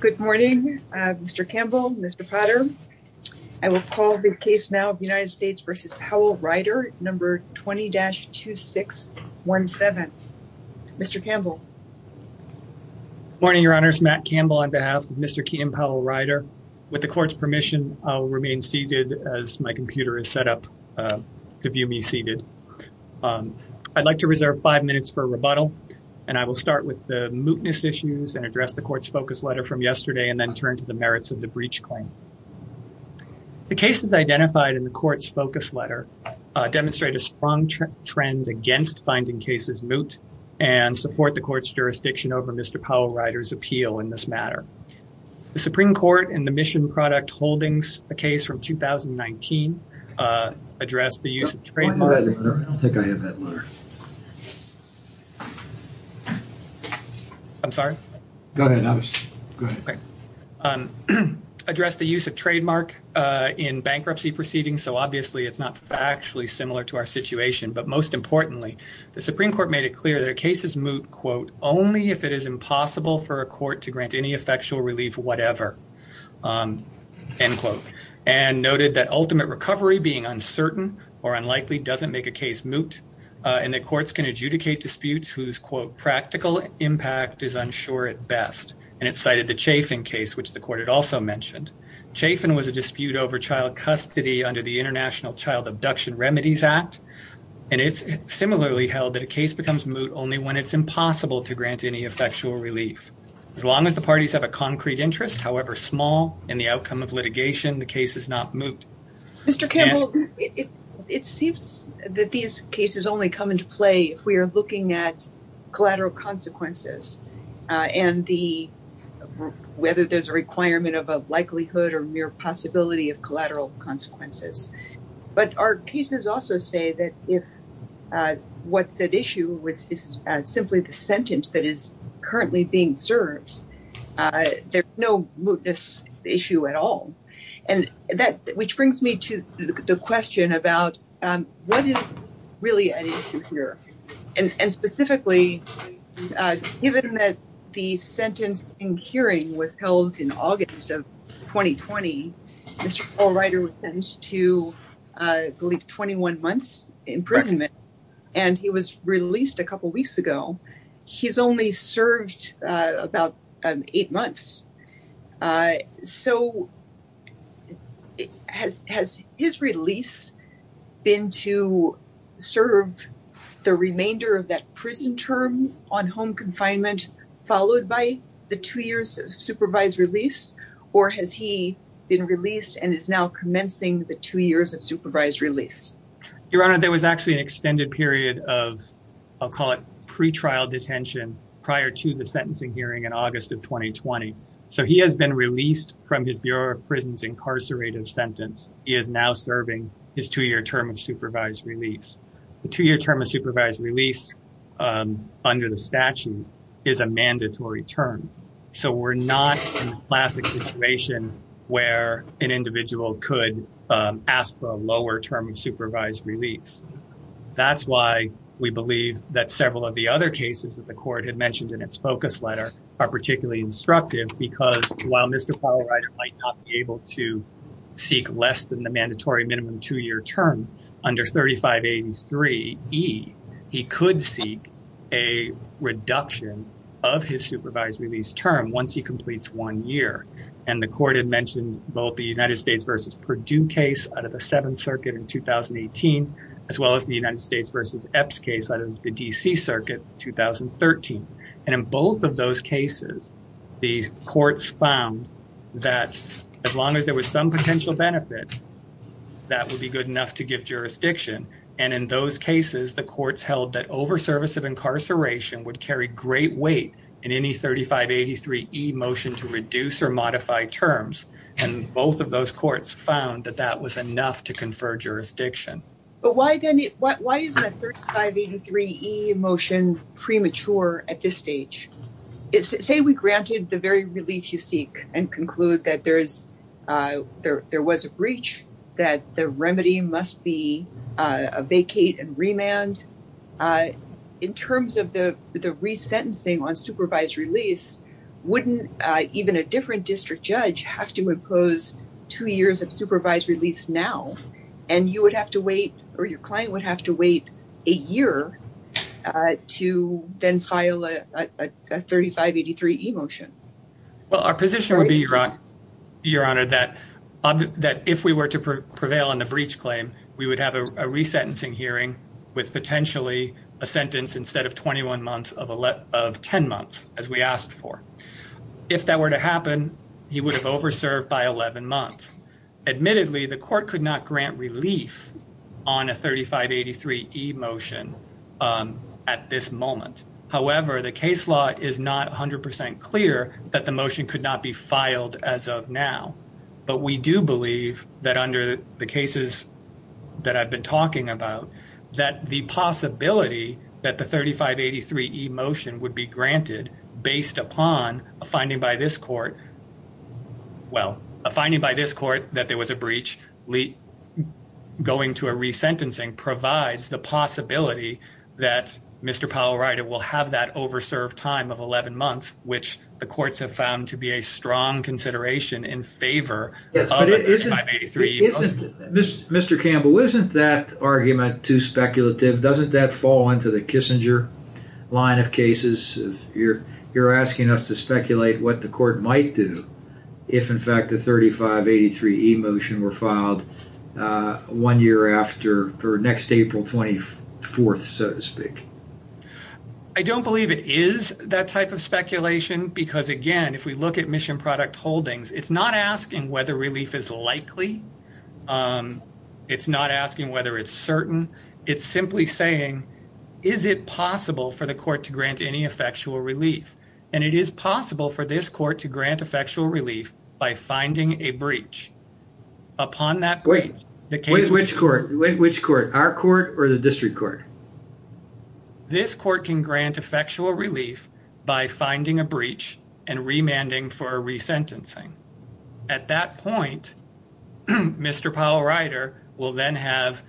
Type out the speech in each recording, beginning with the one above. Good morning, Mr. Campbell, Mr. Potter. I will call the case now of United States v. Powell-Ryder, number 20-2617. Mr. Campbell. Morning, your honors. Matt Campbell on behalf of Mr. Keenan Powell-Ryder. With the court's permission, I'll remain seated as my computer is set up to view me seated. I'd like to reserve five minutes for rebuttal, and I will start with the mootness issues and the court's focus letter from yesterday and then turn to the merits of the breach claim. The cases identified in the court's focus letter demonstrate a strong trend against finding cases moot and support the court's jurisdiction over Mr. Powell-Ryder's appeal in this matter. The Supreme Court in the Mission Product Holdings case from 2019 addressed the use of trademark- I don't think I have that letter. I'm sorry? Go ahead. Addressed the use of trademark in bankruptcy proceedings, so obviously it's not factually similar to our situation, but most importantly, the Supreme Court made it clear that a case is moot, quote, only if it is impossible for a court to grant any effectual relief whatever, end quote, and noted that ultimate recovery being uncertain or unlikely doesn't make a case moot. And that courts can adjudicate disputes whose, quote, practical impact is unsure at best, and it cited the Chafin case, which the court had also mentioned. Chafin was a dispute over child custody under the International Child Abduction Remedies Act, and it's similarly held that a case becomes moot only when it's impossible to grant any effectual relief. As long as the parties have a concrete interest, however small, in the outcome of litigation, the case is not moot. Mr. Campbell, it seems that these cases only come into play if we are looking at collateral consequences and whether there's a requirement of a likelihood or mere possibility of collateral consequences. But our cases also say that if what's at issue is simply the sentence that is currently being served, there's no mootness issue at all. And that, which brings me to the question about what is really at issue here? And specifically, given that the sentence in hearing was held in August of 2020, Mr. Paul Ryder was sentenced to, I believe, 21 months imprisonment, and he was released a couple weeks ago. He's only served about eight months. So has his release been to serve the remainder of that prison term on home confinement, followed by the two years of supervised release? Or has he been released and is now commencing the two years of supervised release? Your Honor, there was actually an extended period of, I'll call it, pre-trial detention prior to the sentencing hearing in August of 2020. So he has been released from his Bureau of Prisons' incarcerative sentence. He is now serving his two-year term of supervised release. The two-year term of supervised release under the statute is a mandatory term. So we're not in the classic situation where an individual could ask for a lower term of supervised release. That's why we believe that several of the other cases that the Court had mentioned in its focus letter are particularly instructive, because while Mr. Paul Ryder might not be able to seek less than the mandatory minimum two-year term, under 3583E, he could seek a reduction of his supervised release term once he completes one year. And the Court had mentioned both the United States v. Purdue case out of the Seventh Circuit in 2018, as well as the United States v. Epps case out of the D.C. Circuit in 2013. And in both of those cases, the Courts found that as long as there was some potential benefit, that would be good enough to give jurisdiction. And in those in any 3583E motion to reduce or modify terms, and both of those Courts found that that was enough to confer jurisdiction. But why is the 3583E motion premature at this stage? Say we granted the very release you seek and conclude that there was a breach, that the remedy must be a vacate and remand. In terms of the resentencing on supervised release, wouldn't even a different district judge have to impose two years of supervised release now, and you would have to wait, or your client would have to wait a year to then file a 3583E motion? Well, our position would be, Your Honor, that if we were to prevail on the breach claim, we would have a resentencing hearing with potentially a sentence instead of 21 months of 10 months, as we asked for. If that were to happen, he would have overserved by 11 months. Admittedly, the Court could not grant relief on a 3583E motion at this moment. However, the case law is not 100% clear that the motion could not be filed as of now. But we do believe that under the cases that I've been talking about, that the possibility that the 3583E motion would be granted based upon a finding by this Court, well, a finding by this Court that there was a time of 11 months, which the courts have found to be a strong consideration in favor of a 3583E motion. Mr. Campbell, isn't that argument too speculative? Doesn't that fall into the Kissinger line of cases? You're asking us to speculate what the Court might do if, in fact, the 3583E were filed one year after, or next April 24th, so to speak. I don't believe it is that type of speculation because, again, if we look at Mission Product Holdings, it's not asking whether relief is likely. It's not asking whether it's certain. It's simply saying, is it possible for the Court to grant any effectual relief? And it is possible for this Court to grant effectual relief by finding a breach. Upon that breach, the case... Wait, which Court? Our Court or the District Court? This Court can grant effectual relief by finding a breach and remanding for resentencing. At that point, Mr. Powell-Ryder will then have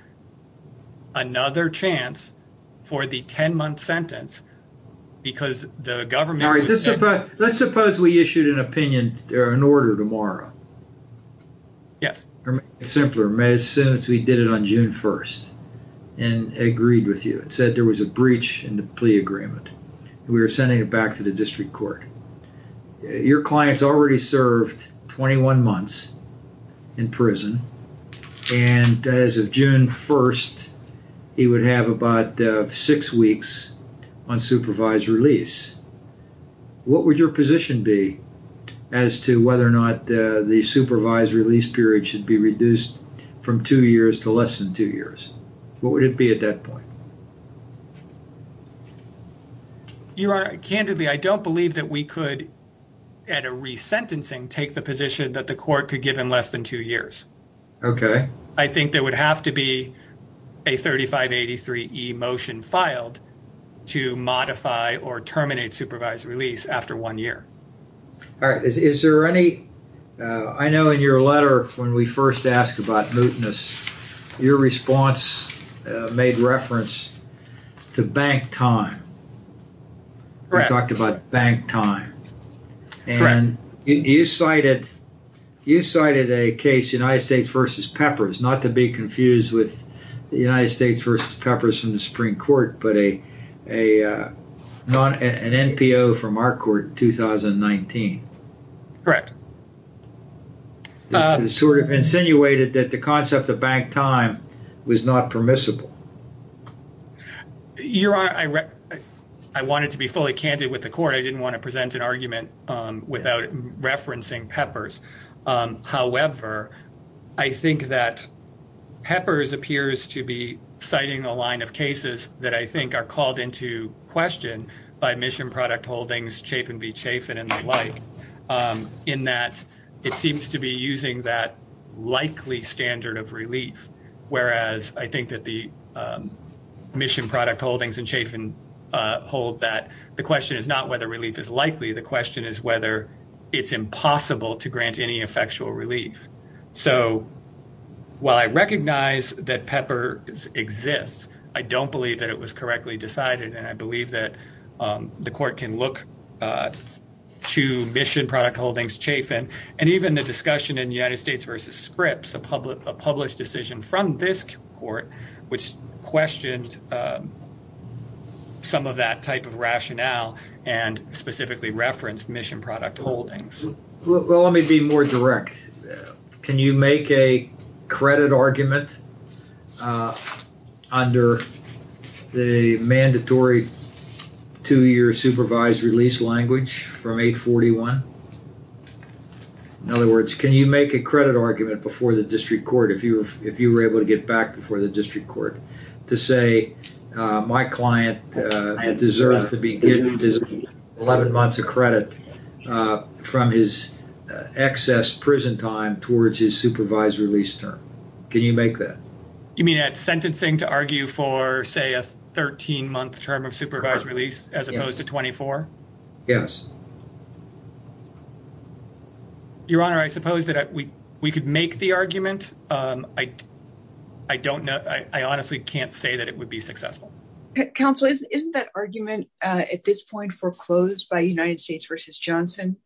another chance for the 10-month sentence because the government... All right, let's suppose we issued an opinion or an order tomorrow. Yes. To make it simpler, as soon as we did it on June 1st and agreed with you, it said there was a breach in the plea agreement. We were sending it back to the District Court. Your client's already served 21 months in prison, and as of June 1st, he would have about six weeks unsupervised release. What would your position be as to whether or not the supervised release period should be reduced from two years to less than two years? What would it be at that point? Your Honor, candidly, I don't believe that we could, at a resentencing, take the position that the Court could give him less than two years. Okay. I think there would have to be a 3583e motion filed to modify or terminate supervised release after one year. All right. Is there any... I know in your letter, when we first asked about mootness, your response made reference to bank time. Correct. You cited a case, United States v. Peppers, not to be confused with the United States v. Peppers from the Supreme Court, but an NPO from our court in 2019. Correct. It sort of insinuated that the concept of bank time was not permissible. Your Honor, I wanted to be fully candid with the Court. I didn't want to present an argument without referencing Peppers. However, I think that Peppers appears to be citing a line of cases that I think are called into question by mission product holdings, chafin v. chafin, and the like, in that it seems to be using that likely standard of relief, whereas I think that the mission product holdings and chafin hold that the question is not whether relief is likely. The question is whether it's impossible to grant any effectual relief. So while I recognize that Peppers exists, I don't believe that it was correctly decided, and I believe that the Court can look to mission product holdings, chafin, and even the discussion in United States v. Scripps, a published decision from this Court, which questioned some of that type of rationale and specifically referenced mission product holdings. Well, let me be more direct. Can you make a credit argument under the mandatory two-year supervised release language from 841? In other words, can you make a credit argument before the District Court, if you were able to get back before the District Court, to say, my client deserves to be given 11 months of credit from his excess prison time towards his supervised release term? Can you make that? You mean at sentencing to argue for, say, a 13-month term of supervised release as opposed to 24? Yes. Your Honor, I suppose that we could make the argument. I honestly can't say that it would be successful. Counsel, isn't that argument at this point foreclosed by United States v. Johnson?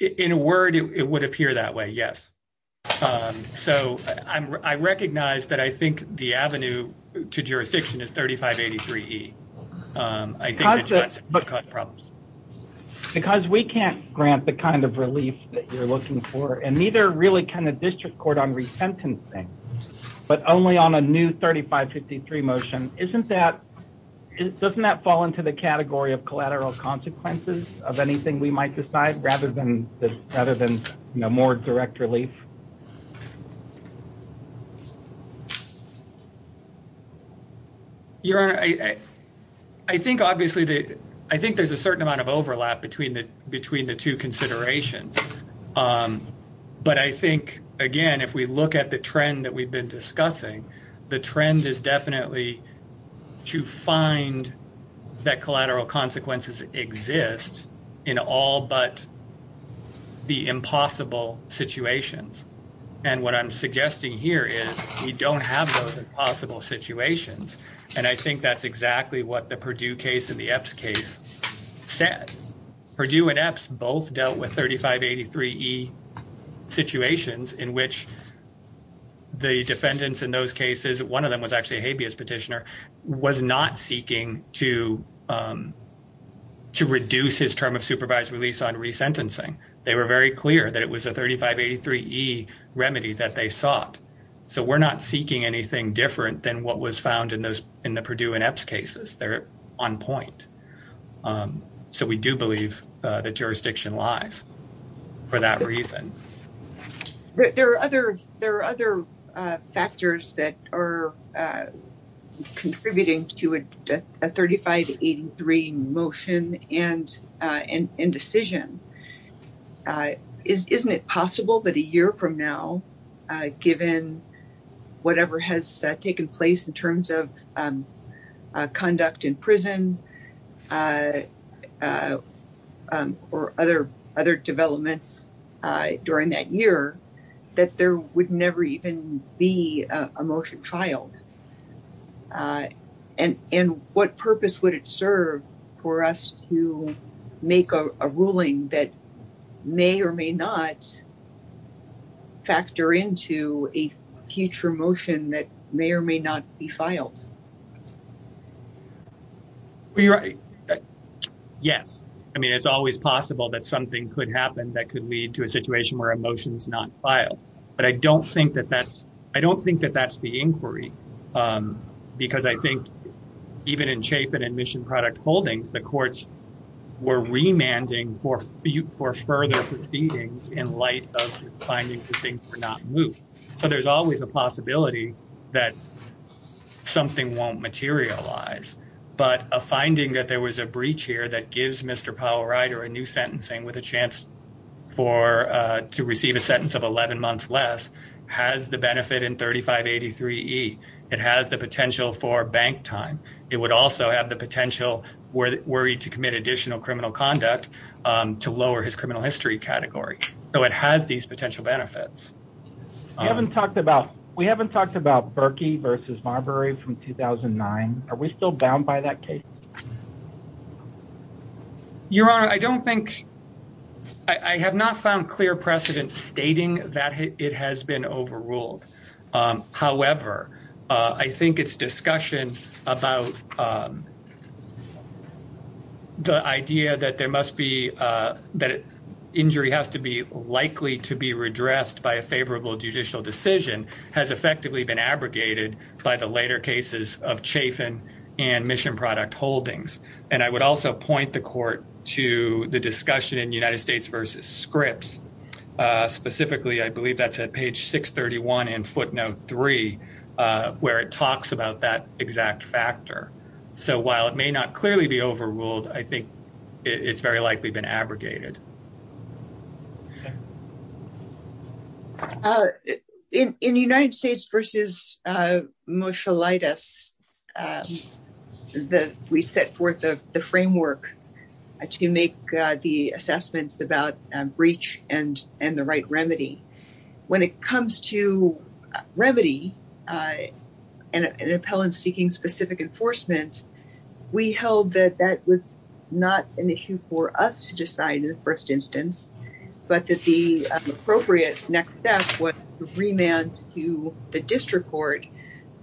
In a word, it would appear that way, yes. So I recognize that I think the avenue to jurisdiction is 3583E. I think that you have some problems. Because we can't grant the kind of relief that you're looking for, and neither really can the District Court on resentencing, but only on a new 3553 motion. Doesn't that fall into the category of collateral consequences of anything we might decide, rather than more direct relief? Your Honor, I think, obviously, I think there's a certain amount of overlap between the two considerations. But I think, again, if we look at the trend that we've been discussing, the trend is definitely to find that collateral consequences exist in all but the impossible situations. And what I'm suggesting here is we don't have those impossible situations. And I think that's exactly what the Perdue case and the Epps case said. Perdue and Epps both dealt with 3583E situations in which the defendants in those cases, one of them was actually a habeas petitioner, was not seeking to reduce his term of supervised release on resentencing. They were clear that it was a 3583E remedy that they sought. So we're not seeking anything different than what was found in the Perdue and Epps cases. They're on point. So we do believe the jurisdiction lies for that reason. There are other factors that are contributing to a isn't it possible that a year from now, given whatever has taken place in terms of conduct in prison or other other developments during that year, that there would never even be a motion filed? And what purpose would it serve for us to make a ruling that may or may not factor into a future motion that may or may not be filed? Well, you're right. Yes. I mean, it's always possible that something could happen that could lead to a situation where a motion is not filed. But I don't think that that's the inquiry. Because I think even in Chaffin and Mission Product Holdings, the courts were remanding for further proceedings in light of finding the things were not moved. So there's always a possibility that something won't materialize. But a finding that there was a breach here that gives Mr. Powell Ryder a new sentencing with a chance to receive a sentence of 11 months less has the benefit in 3583 E. It has the potential for bank time. It would also have the potential where worried to commit additional criminal conduct to lower his criminal history category. So it has these potential benefits. You haven't talked about. We haven't talked about Berkey versus Marbury from 2009. Are we still bound by that case? Your Honor, I don't think I have not found clear precedent stating that it has been overruled. However, I think it's discussion about the idea that there must be that injury has to be likely to be redressed by a favorable judicial decision has effectively been abrogated by the later cases of Chaffin and Mission Product Holdings. And I would also point the court to the discussion in United States versus scripts. Specifically, I believe that's at page 631 in footnote three, where it talks about that exact factor. So while it may not clearly be overruled, I think it's very likely been abrogated. In United States versus Moshe lightest, the we set forth the framework to make the assessments about breach and and the right remedy when it comes to remedy and an appellant seeking specific enforcement, we held that that not an issue for us to decide in the first instance, but that the appropriate next step was remand to the district court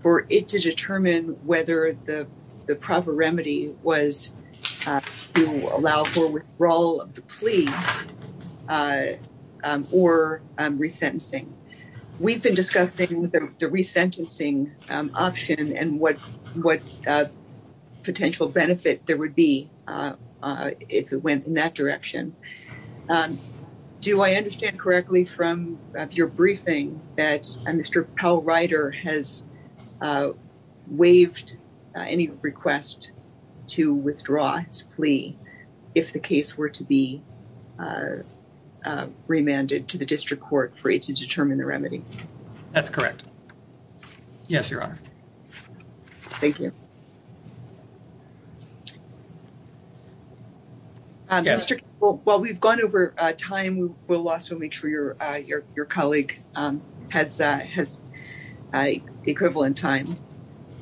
for it to determine whether the proper remedy was to allow for withdrawal of the plea or resentencing. We've been discussing the resentencing option and what what potential benefit there would be if it went in that direction. Do I understand correctly from your briefing that Mr. Powell writer has waived any request to withdraw its plea if the case were to be remanded to the district court for it to determine the remedy? That's correct. Yes, your honor. Thank you. Yes. Well, we've gone over time. We'll also make sure your your your colleague has has equivalent time.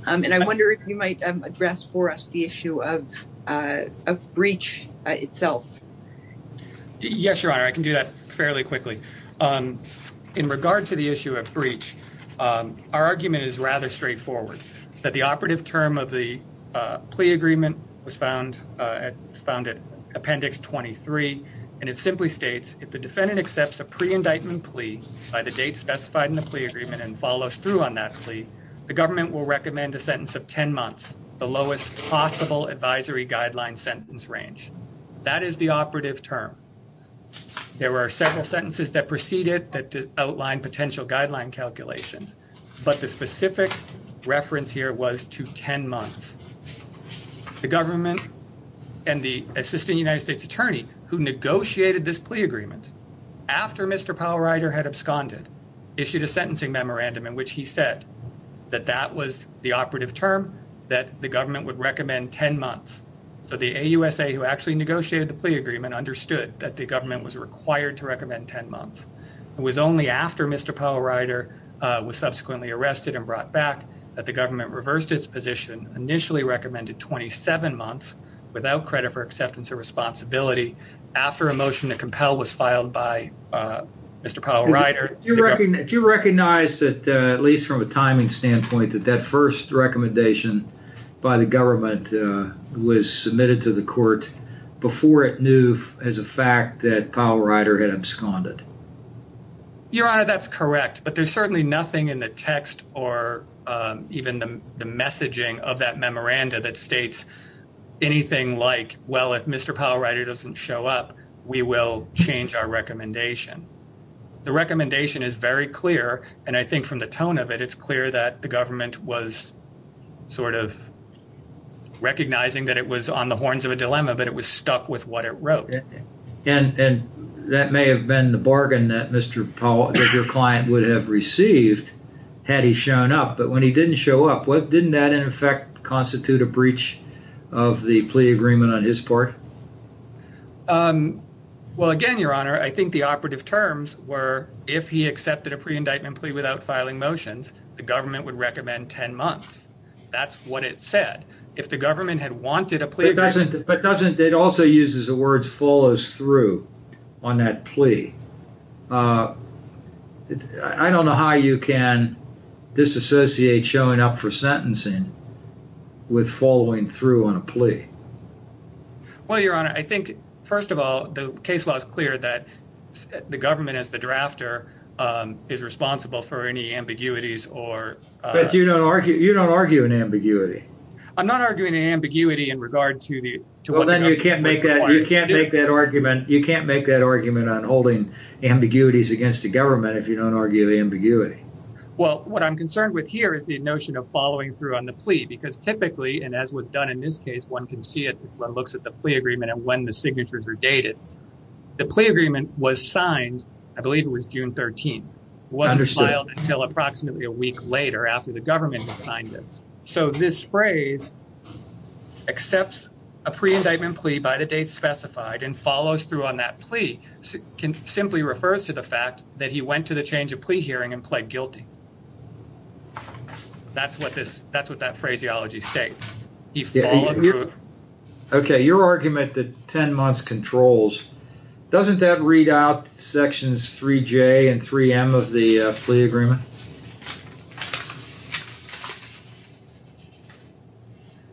And I wonder if you might address for us the issue of a breach itself. Yes, your honor. I can do that fairly quickly. Um, in regard to the issue of breach, our argument is rather straightforward, that the operative term of the plea agreement was found found at appendix 23. And it simply states if the defendant accepts a pre indictment plea by the date specified in the plea agreement and follows through on that plea, the government will recommend a sentence of 10 months, the lowest possible advisory guideline sentence range. That is the operative term. There were several sentences that preceded that outline potential guideline calculations. But the specific reference here was to 10 months. The government and the assistant United States attorney who negotiated this plea agreement after Mr. Powell writer had absconded, issued a sentencing memorandum in which he said that that was the operative term that the government would recommend 10 months. So the A. U. S. A. Who actually negotiated the plea agreement understood that the government was required to recommend 10 months. It was only after Mr. Powell writer was subsequently arrested and brought back that the government reversed its position initially recommended 27 months without credit for acceptance of responsibility after a motion to compel was filed by Mr. Powell writer. Do you recognize that at least from a timing standpoint that that first recommendation by the government was submitted to the court before it knew as a fact that Powell writer had absconded? Your honor, that's correct. But there's certainly nothing in the text or even the messaging of that memoranda that states anything like, well, if Mr. Powell writer doesn't show up, we will change our recommendation. The recommendation is very clear. And I think from the tone of it, it's clear that the government was sort of recognizing that it was on the horns of a dilemma, but it was stuck with what it wrote. And that may have been the bargain that Mr. Powell, your client would have received had he shown up, but when he didn't show up, what didn't that in effect constitute a breach of the plea agreement on his part? Well, again, your honor, I think the operative terms were, if he accepted a pre-indictment plea without filing motions, the government would recommend 10 months. That's what it said. If the government had wanted a plea. But doesn't it also uses the words follows through on that plea? I don't know how you can disassociate showing up for sentencing with following through on a plea. Well, your honor, I think first of all, the case law is clear that the government as the drafter is responsible for any ambiguities or... But you don't argue an ambiguity. I'm not arguing an ambiguity in regard to the... Well, then you can't make that argument. You can't make that argument on holding ambiguities against the government if you don't argue the ambiguity. Well, what I'm concerned with here is the notion of following through on the plea, because typically, and as was done in this case, one can see it when it looks at the plea agreement and when the signatures are dated. The plea agreement was signed, I believe it was June 13. It wasn't filed until approximately a week later after the government had signed it. So this phrase accepts a pre-indictment plea by the date specified and follows through on that plea simply refers to the fact that he went to the change of plea hearing and pled guilty. That's what that phraseology states. He followed through. Okay, your argument that 10 months controls, doesn't that read out sections 3J and 3M of the plea agreement?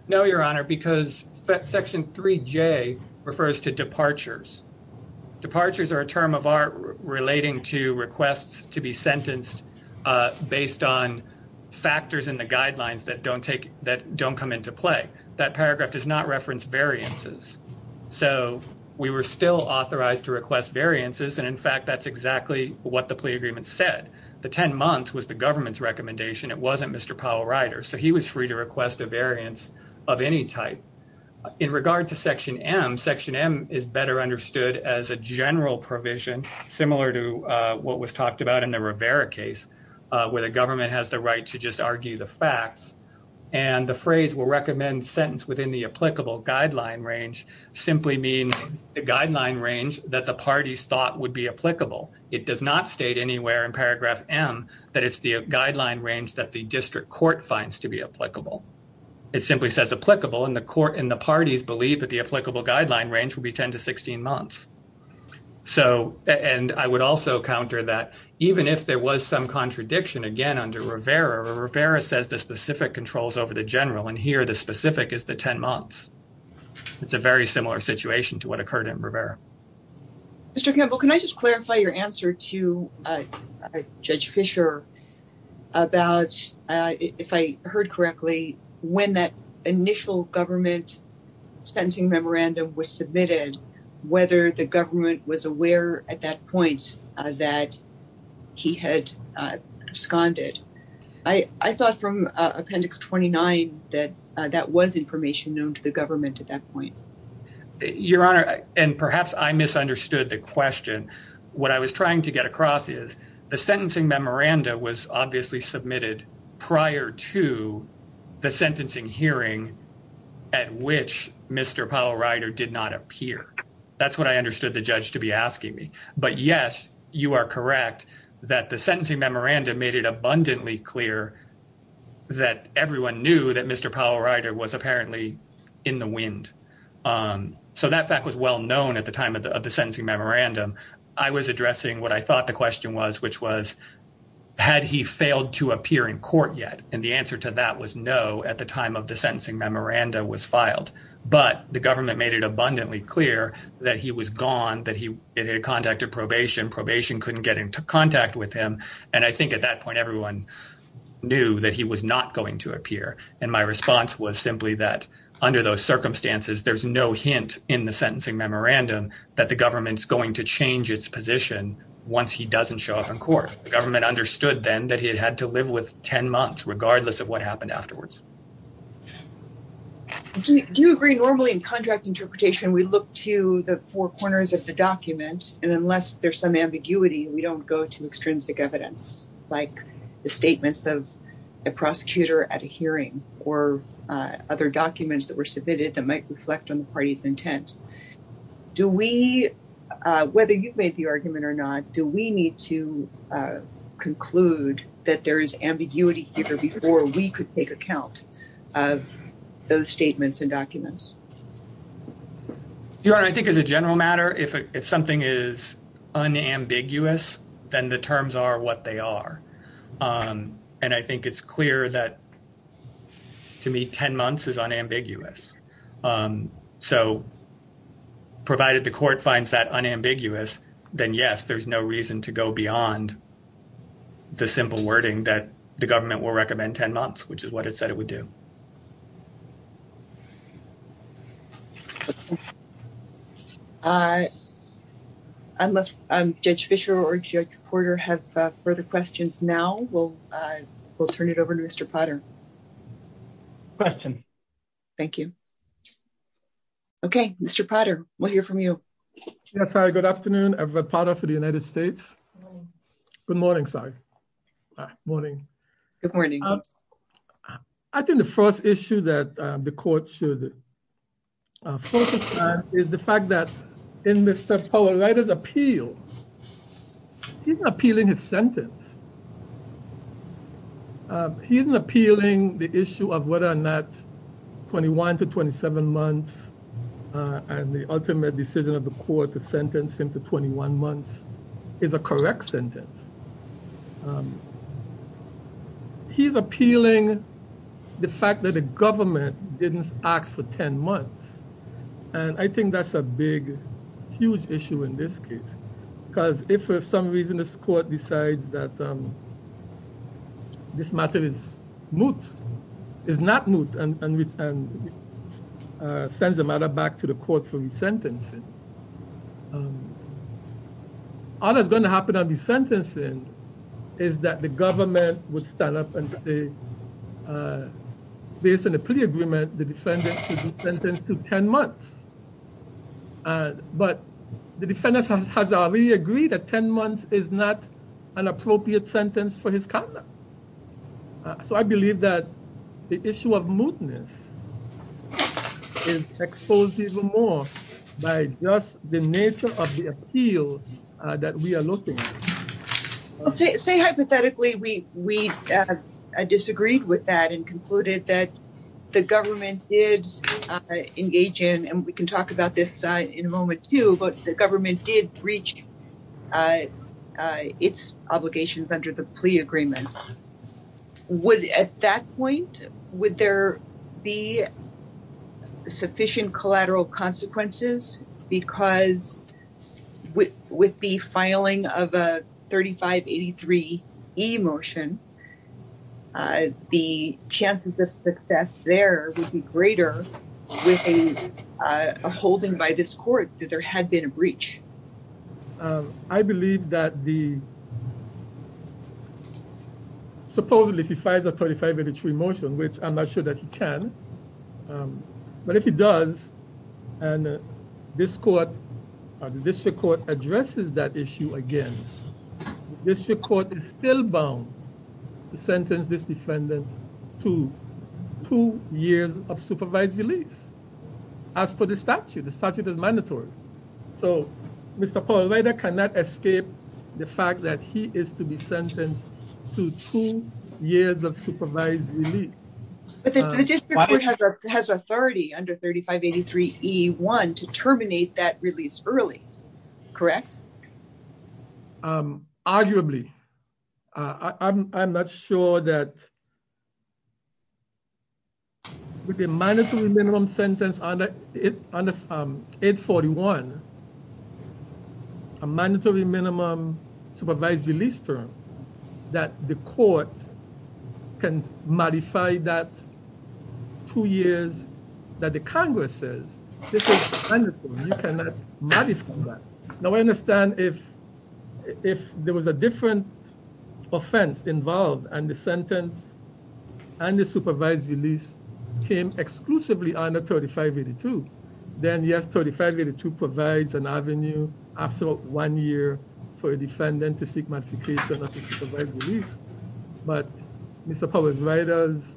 No, your honor, because section 3J refers to departures. Departures are a term of art relating to requests to be sentenced based on factors in the guidelines that don't come into play. That paragraph does not reference variances. So we were still authorized to request variances. And in fact, that's exactly what the plea agreement said. The 10 months was the government's So he was free to request a variance of any type. In regard to section M, section M is better understood as a general provision, similar to what was talked about in the Rivera case, where the government has the right to just argue the facts. And the phrase will recommend sentence within the applicable guideline range simply means the guideline range that the parties thought would be applicable. It does not state anywhere in paragraph M that it's the guideline range that the district court finds to be applicable. It simply says applicable, and the court and the parties believe that the applicable guideline range would be 10 to 16 months. So, and I would also counter that even if there was some contradiction again under Rivera, Rivera says the specific controls over the general, and here the specific is the 10 months. It's a very similar situation to what occurred in Rivera. Mr. Campbell, can I just clarify your answer to Judge Fisher about, if I heard correctly, when that initial government sentencing memorandum was submitted, whether the government was aware at that point that he had absconded? I thought from appendix 29 that that was information known to the government at that point. Your Honor, and perhaps I misunderstood the question. What I was trying to get across is the sentencing memorandum was obviously submitted prior to the sentencing hearing at which Mr. Powell Rider did not appear. That's what I understood the judge to be asking me. But yes, you are correct that the sentencing memorandum made it abundantly clear that everyone knew that Mr. Powell Rider was apparently in the wind. So that fact was well known at the time of the sentencing memorandum. I was addressing what I thought the question was, which was, had he failed to appear in court yet? And the answer to that was no at the time of the sentencing memorandum was filed. But the government made it abundantly clear that he was gone, that he had contacted probation. Probation couldn't get into contact with him. And I think at that point, everyone knew that he was not going to appear. And my response was simply that under those circumstances, there's no hint in the sentencing memorandum that the government's going to change its position once he doesn't show up in court. The government understood then that he had had to live with 10 months regardless of what happened afterwards. Do you agree normally in contract interpretation, we look to the four corners of the document and unless there's some like the statements of a prosecutor at a hearing or other documents that were submitted that might reflect on the party's intent, do we, whether you've made the argument or not, do we need to conclude that there is ambiguity here before we could take account of those statements and documents? Your Honor, I think as a general matter, if something is unambiguous, then the terms are what they are. And I think it's clear that to me, 10 months is unambiguous. So provided the court finds that unambiguous, then yes, there's no reason to go beyond the simple wording that the government will recommend 10 months, which is what it said it would do. I must, um, Judge Fischer or Judge Porter have further questions now. We'll, uh, we'll turn it over to Mr. Potter. Question. Thank you. Okay. Mr. Potter, we'll hear from you. Yes. Hi. Good afternoon. I'm a part of the United States. Good morning. Sorry. Morning. Good morning. I think the first issue that the court should focus on is the fact that in Mr. Powell writer's appeal, he's appealing his sentence. He isn't appealing the issue of whether or not 21 to 27 months and the ultimate decision of court to sentence him to 21 months is a correct sentence. He's appealing the fact that the government didn't ask for 10 months. And I think that's a big, huge issue in this case, because if for some reason this court decides that, um, this matter is moot, is not moot and, and, and, uh, sends the matter back to the court for sentencing, um, all that's going to happen on the sentencing is that the government would stand up and say, uh, based on a plea agreement, the defendant should be sentenced to 10 months. But the defendants has already agreed that 10 months is not an appropriate sentence for his by just the nature of the appeal that we are looking. Say, hypothetically, we, we, uh, disagreed with that and concluded that the government did engage in, and we can talk about this in a moment too, but the government did reach, uh, uh, its obligations under the plea agreement. Would at that point, would there be sufficient collateral consequences because with, with the filing of a 3583 E motion, uh, the chances of success there would be greater with a, uh, holding by this court that there had been a breach. Um, I believe that the, supposedly if he files a 3583 motion, which I'm not sure that he can, but if he does, and this court, uh, the district court addresses that issue again, district court is still bound to sentence this defendant to two years of supervised release. As for the statute, the statute is mandatory. So Mr. Paul Reiter cannot escape the fact that he is sentenced to two years of supervised release. But the district court has authority under 3583E1 to terminate that release early, correct? Um, arguably, uh, I'm, I'm not sure that with a mandatory minimum sentence under, under, um, 841, a mandatory minimum supervised release term that the court can modify that two years that the Congress says, this is unlawful. You cannot modify that. Now I understand if, if there was a different offense involved and the sentence and the supervised release came exclusively under 3582, then yes, 3582 provides an avenue after one year for a defendant to seek modification of his supervised release. But Mr. Paul Reiter's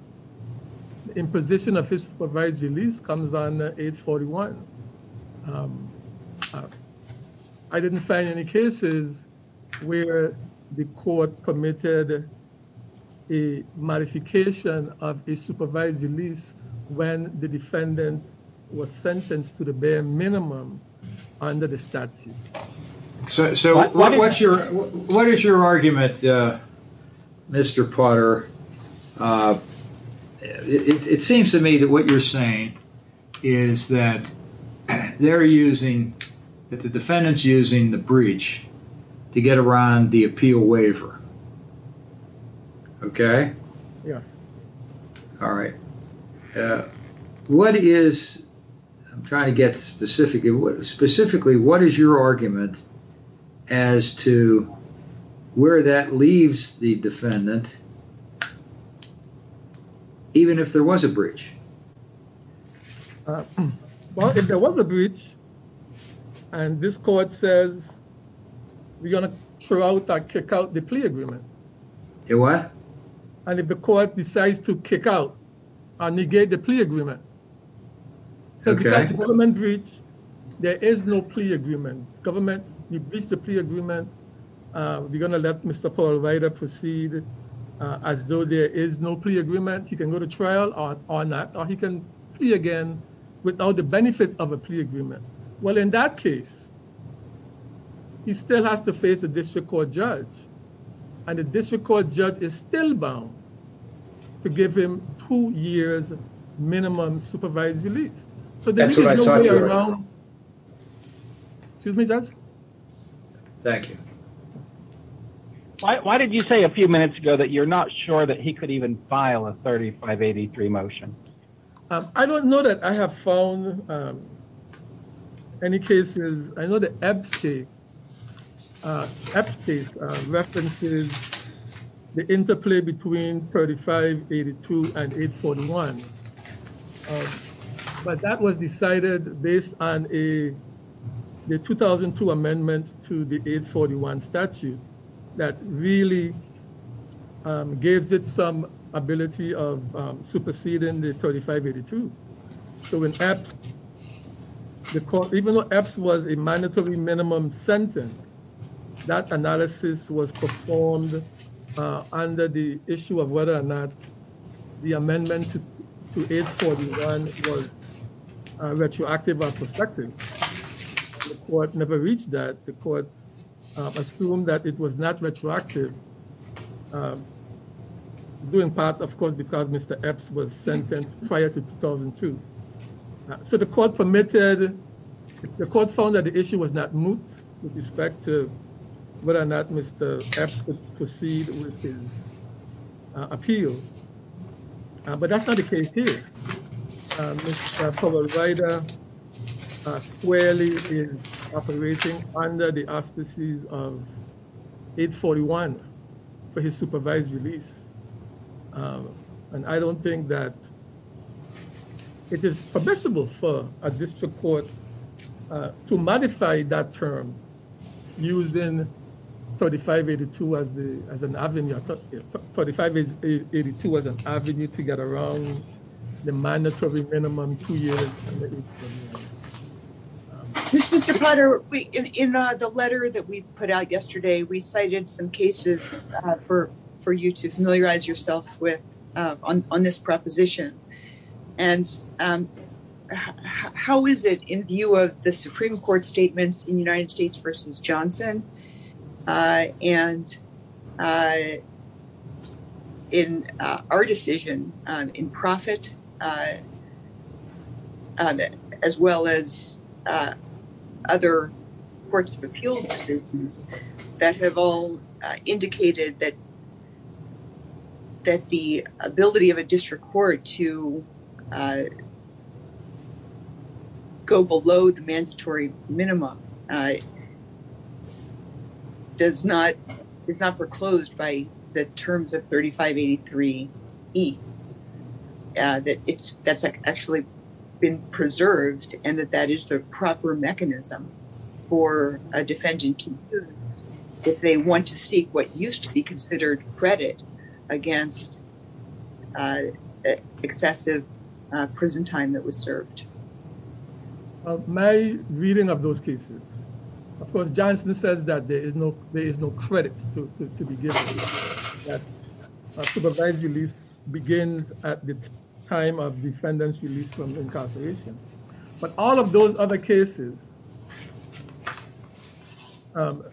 imposition of his supervised release comes on 841. I didn't find any cases where the court permitted a modification of a supervised release when the defendant was sentenced to the bare minimum under the statute. So what's your, what is your argument, uh, Mr. Putter? Uh, it, it seems to me that what you're saying is that they're using, that the defendant's using the breach to get around the appeal waiver. Okay. Yes. All right. Uh, what is, I'm trying to get specific, specifically, what is your argument as to where that leaves the defendant, even if there was a breach? Uh, well, if there was a breach and this court says we're going to throw out or kick out the plea agreement. And if the court decides to kick out or negate the plea agreement, so because the government breached, there is no plea agreement. Government, you breached the plea agreement. Uh, we're going to let Mr. Paul Reiter proceed as though there is no plea agreement. He can go to trial or, or not, or he can plea again without the benefits of a plea agreement. Well, in that case, he still has to face a district court judge and the district court judge is still bound to give him two years minimum supervised release. So that's the way around. Excuse me, Judge. Thank you. Why, why did you say a few minutes ago that you're not sure that he could even file a 3583 motion? Um, I don't know that I have found, um, any cases. I know the EPSTE, uh, EPSTE, uh, references the interplay between 3582 and 841. Um, but that was decided based on a, the 2002 amendment to the 841 statute that really, um, gives it some ability of, um, superseding the 3582. So when EPSTE, the court, even though EPSTE was a mandatory minimum sentence, that analysis was performed, uh, under the issue of whether or not the amendment to 841 was, uh, retroactive or prospective. The court never reached that. The court assumed that it was not retroactive, um, doing part, of course, because Mr. EPSTE was sentenced prior to 2002. So the court permitted, the court found that the issue was not moot with respect to whether or not Mr. EPSTE could proceed with his, uh, appeal. Uh, but that's not the case here. Uh, Mr. Trevor Ryder, uh, squarely is operating under the auspices of 841 for his supervised release. Um, and I don't think that it is permissible for a district court, uh, to modify that term using 3582 as the, as an avenue. I thought 3582 was an avenue to get around the mandatory minimum two years. Mr. DePotter, we, in the letter that we put out yesterday, we cited some cases, uh, for, for you to familiarize yourself with, uh, on, on this proposition. And, um, how, how is it in view of the Supreme Court statements in United States versus Johnson, uh, and, uh, in, uh, our decision, um, in profit, uh, as well as, uh, other courts of the United States to, uh, go below the mandatory minimum, uh, does not, it's not foreclosed by the terms of 3583E, uh, that it's, that's actually been preserved and that that is the proper mechanism for a defendant to use if they want to seek what used to be a successive, uh, prison time that was served. Uh, my reading of those cases, of course, Johnson says that there is no, there is no credit to, to, to be given that supervised release begins at the time of defendant's release from incarceration, but all of those other cases, um,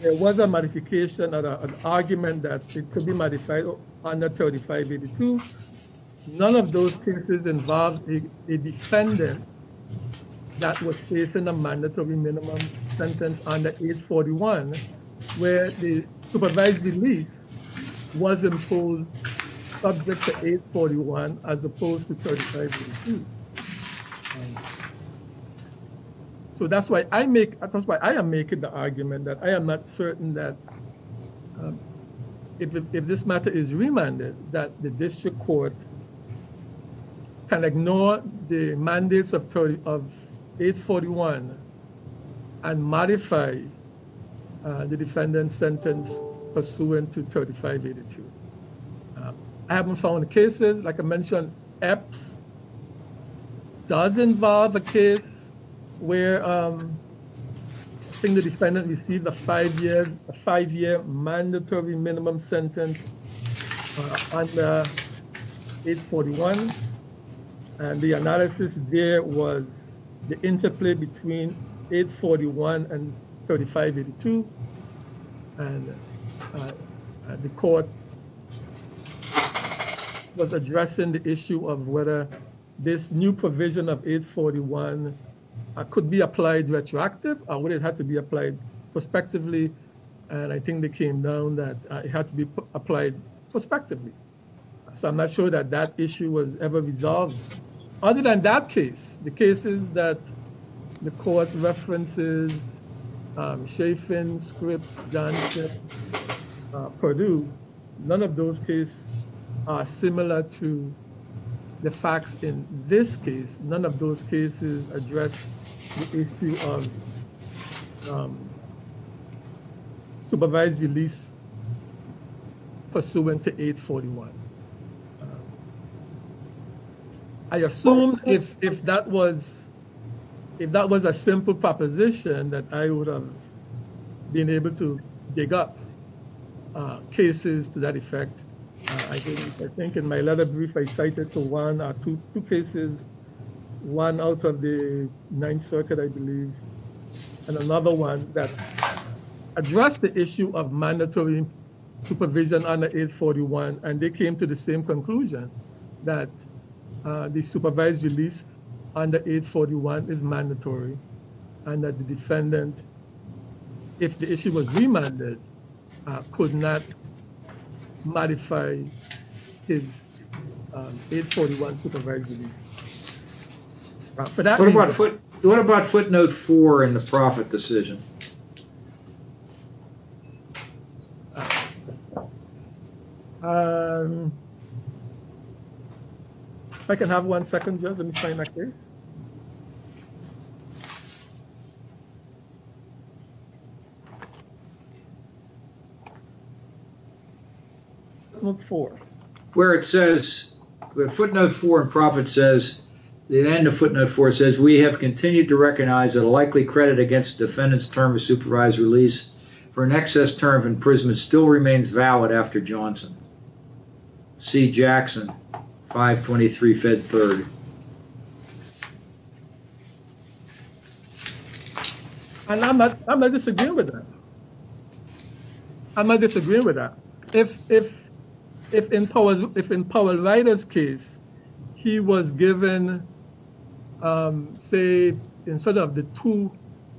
there was a modification or an argument that it could be modified under 3582E. None of those cases involved a defendant that was facing a mandatory minimum sentence under 841E, where the supervised release was imposed subject to 841E as opposed to 3582E. So that's why I make, that's why I am making the argument that I am not certain that, um, if, if this matter is remanded that the district court can ignore the mandates of 30, of 841E and modify, uh, the defendant's sentence pursuant to 3582E. I haven't found cases, like I mentioned, EPS does involve a case where, um, single defendant received a five-year, a five-year mandatory minimum sentence under 841E, and the analysis there was the interplay between 841E and 3582E, and, uh, the court was addressing the issue of whether this new provision of 841E, uh, could be applied retroactive or would it have to be applied prospectively, and I think they came down that it had to be applied prospectively. So I'm not sure that that issue was ever resolved. Other than that case, the cases that the court references, um, Chaffin, Scripps, Johnship, uh, Perdue, none of those cases are similar to the facts in this case. None of those cases address the issue of, um, supervised release pursuant to 841E. I assume if, if that was, if that was a simple proposition that I would have been able to dig up, uh, cases to that effect, I think, I think in my letter brief, I cited to one two cases, one out of the Ninth Circuit, I believe, and another one that addressed the issue of mandatory supervision under 841E, and they came to the same conclusion that, uh, the supervised release under 841E is mandatory and that the defendant, if the issue was remanded, uh, could not modify his, um, 841 supervised release. What about foot, what about footnote four in the profit decision? Um, if I can have one second, Judge, let me try back there. Footnote four. Where it says, footnote four in profit says, the end of footnote four says, we have continued to recognize that a likely credit against defendant's term of supervised release for an excess term in prison still remains valid after Johnson. C. Jackson, 523 Fed 3rd. And I'm not, I'm not disagreeing with that. I'm not disagreeing with that. If, if, if in Powell Ryder's case, he was given, um, say, instead of the two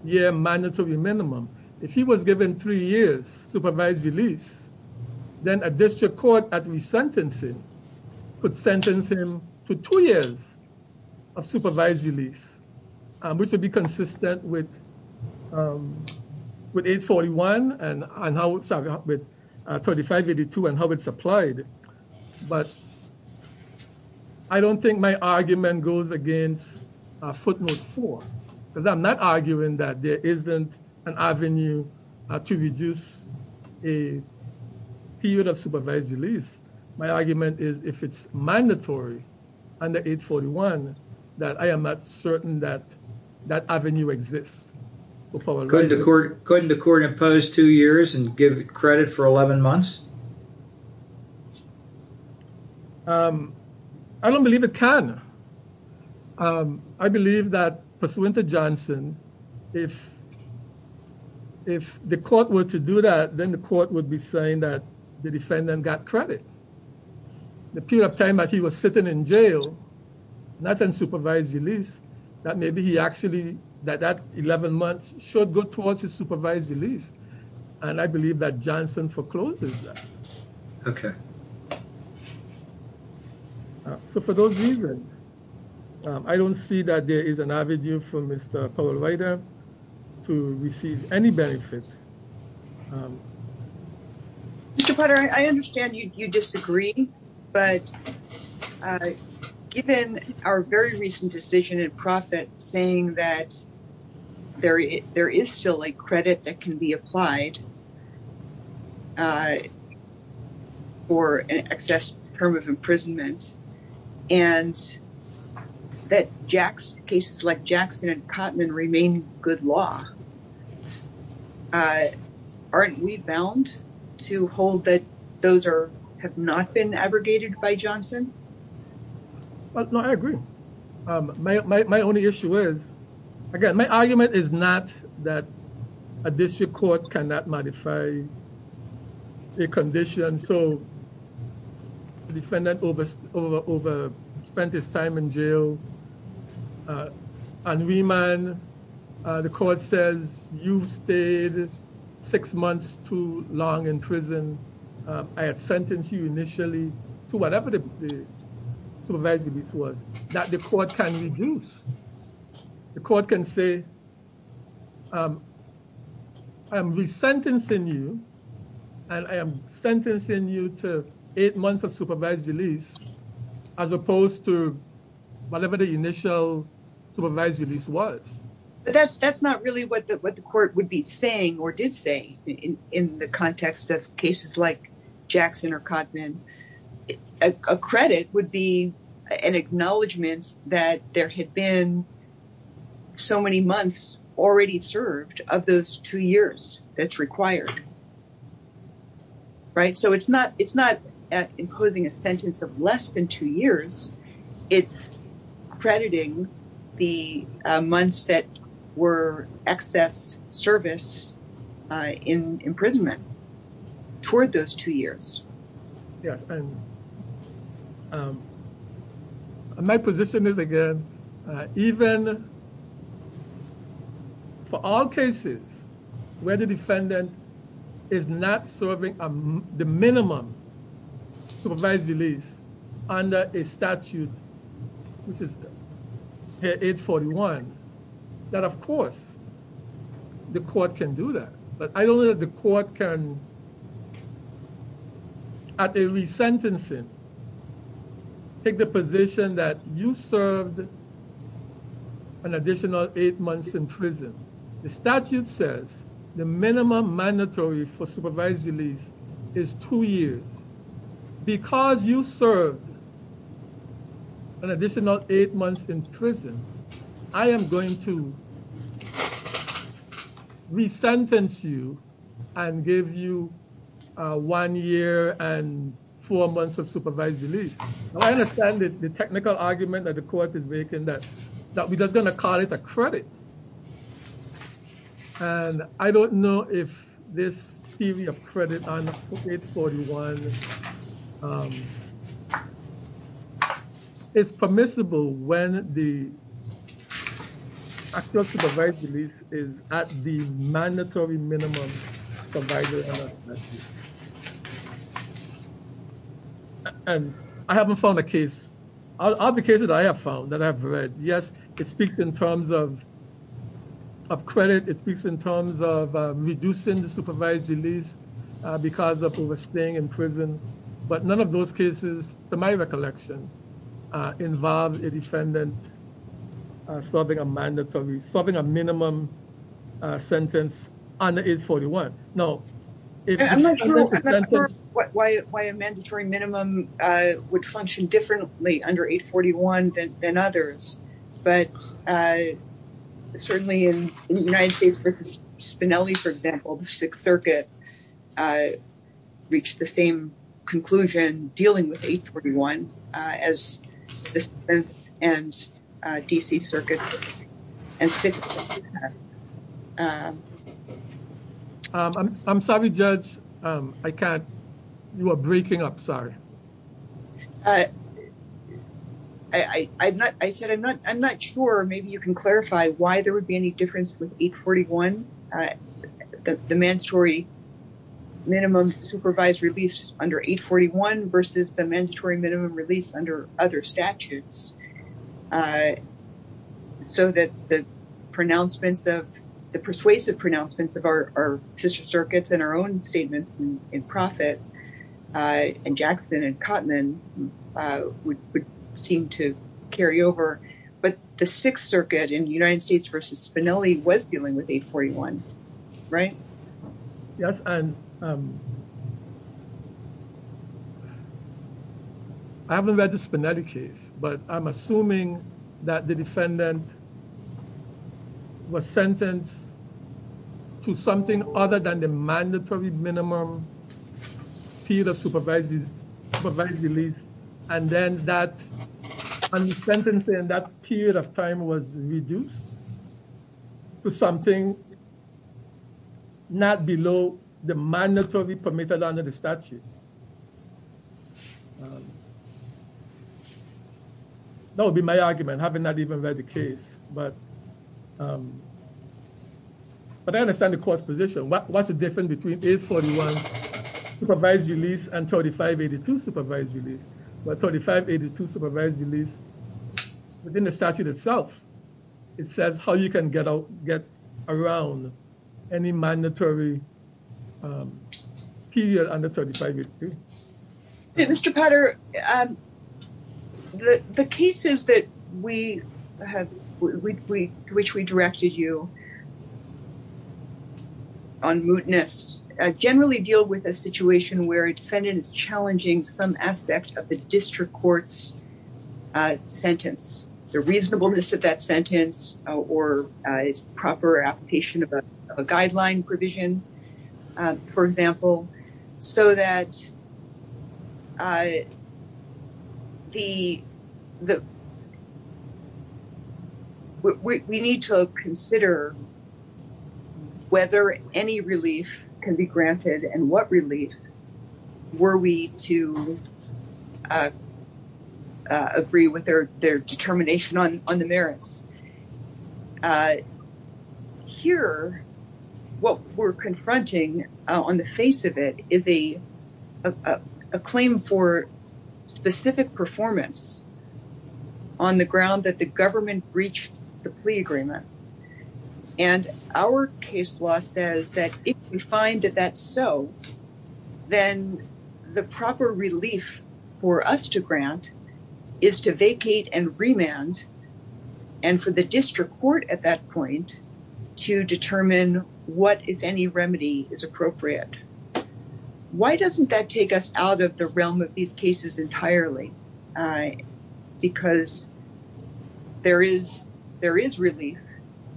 year mandatory minimum, if he was given three years supervised release, then a district court at resentencing could sentence him to two years of supervised release, which would be consistent with, um, with 841 and 3582 and how it's applied. But I don't think my argument goes against footnote four, because I'm not arguing that there isn't an avenue to reduce a period of supervised release. My argument is if it's mandatory under 841, that I am not certain that that avenue exists. Couldn't the court, couldn't the court impose two years and give credit for 11 months? Um, I don't believe it can. Um, I believe that pursuant to Johnson, if, if the court were to do that, then the court would be saying that the defendant got credit. The period of time that he was sitting in jail, not in supervised release, that maybe he actually, that that 11 months should go towards his supervised release. And I believe that Johnson forecloses that. Okay. So for those reasons, I don't see that there is an avenue for Mr. Powell Ryder to receive any credit. Mr. Potter, I understand you disagree, but given our very recent decision in profit saying that there is still a credit that can be applied, uh, for an excess term of imprisonment and that Jack's cases like Jackson and Cotman remain good law, uh, aren't we bound to hold that those are, have not been abrogated by Johnson? No, I agree. Um, my, my, my only issue is, again, my argument is not that a district court cannot modify a condition. So the defendant over, over, over spent his time in jail, uh, and remand, uh, the court says you've stayed six months too long in prison. Um, I had sentenced you initially to whatever the, the supervised release was that the court can reduce. The court can say, um, I'm resentencing you and I am sentencing you to eight months of supervised release as opposed to whatever the initial supervised release was. That's, that's not really what the, what the court would be saying or did say in the context of cases like Jackson or Cotman. A credit would be an acknowledgement that there had been so many months already served of those two years that's required, right? So it's not, it's not imposing a sentence of less than two years. It's crediting the months that were excess service, uh, in imprisonment toward those two years. Yes. And, um, my position is again, uh, even for all cases where the defendant is not serving, um, the minimum supervised release under a statute which is here, 841, that of course the court can do that. But I don't know that the court can at a resentencing take the position that you served an additional eight months in prison. The statute says the minimum mandatory for supervised release is two years. Because you served an additional eight months in prison, I am going to resentence you and give you a one year and four months of supervised release. I understand the technical argument that the court is making that, that we're just going to call it a credit. And I don't know if this theory of credit on 841, um, is permissible when the actual supervised release is at the mandatory minimum provided under the statute. And I haven't found a case, all the cases I have found that I've read, yes, it speaks in terms of credit. It speaks in terms of reducing the supervised release because of overstaying in prison. But none of those cases to my recollection, uh, involved a defendant uh, serving a mandatory, serving a minimum sentence under 841. No. I'm not sure why a mandatory minimum, uh, would function differently under 841 than, than others. But, uh, certainly in the United States versus Spinelli, for example, the Sixth Circuit, uh, reached the same conclusion dealing with 841, uh, as the Fifth and, uh, D.C. Circuits and Sixth. Um, I'm sorry, Judge. Um, I can't, you are breaking up. Sorry. Uh, I, I, I'm not, I said, I'm not, I'm not sure. Maybe you can clarify why there would be any difference with 841, uh, the, the mandatory minimum supervised release under 841 versus the mandatory minimum release under other statutes, uh, so that the pronouncements of, the persuasive pronouncements of our, our Sister Circuits and our own statements in, in profit, uh, and Jackson and Kottman, uh, would, would seem to carry over. But the Sixth Circuit in the United States versus Spinelli was dealing with 841, right? Yes. And, um, I haven't read the Spinelli case, but I'm assuming that the defendant was sentenced to something other than the mandatory minimum period of supervised, supervised release. And then that, and the sentence in that period of time was reduced to something not below the mandatory permitted under the statute. That would be my argument, having not even read the case. But, um, but I understand the court's position. What, what's the difference between 841 supervised release and 3582 supervised release? But 3582 supervised release within the statute itself, it says how you can get out, get around any mandatory, um, period under 3582. Mr. Potter, um, the, the cases that we have, we, we, which we directed you on, on mootness, uh, generally deal with a situation where a defendant is challenging some aspect of the district court's, uh, sentence. The reasonableness of that sentence, uh, or, uh, is proper application of a, of a guideline provision, uh, for example, so that, uh, the, the, uh, we, we need to consider whether any relief can be granted and what relief were we to, uh, agree with their, their determination on, on the merits. Uh, here, what we're confronting, on the face of it is a, a, a claim for specific performance on the ground that the government breached the plea agreement. And our case law says that if you find that that's so, then the proper relief for us to grant is to vacate and remand. And for the district court at that point to determine what, if any remedy is appropriate, why doesn't that take us out of the realm of these cases entirely? Uh, because there is, there is relief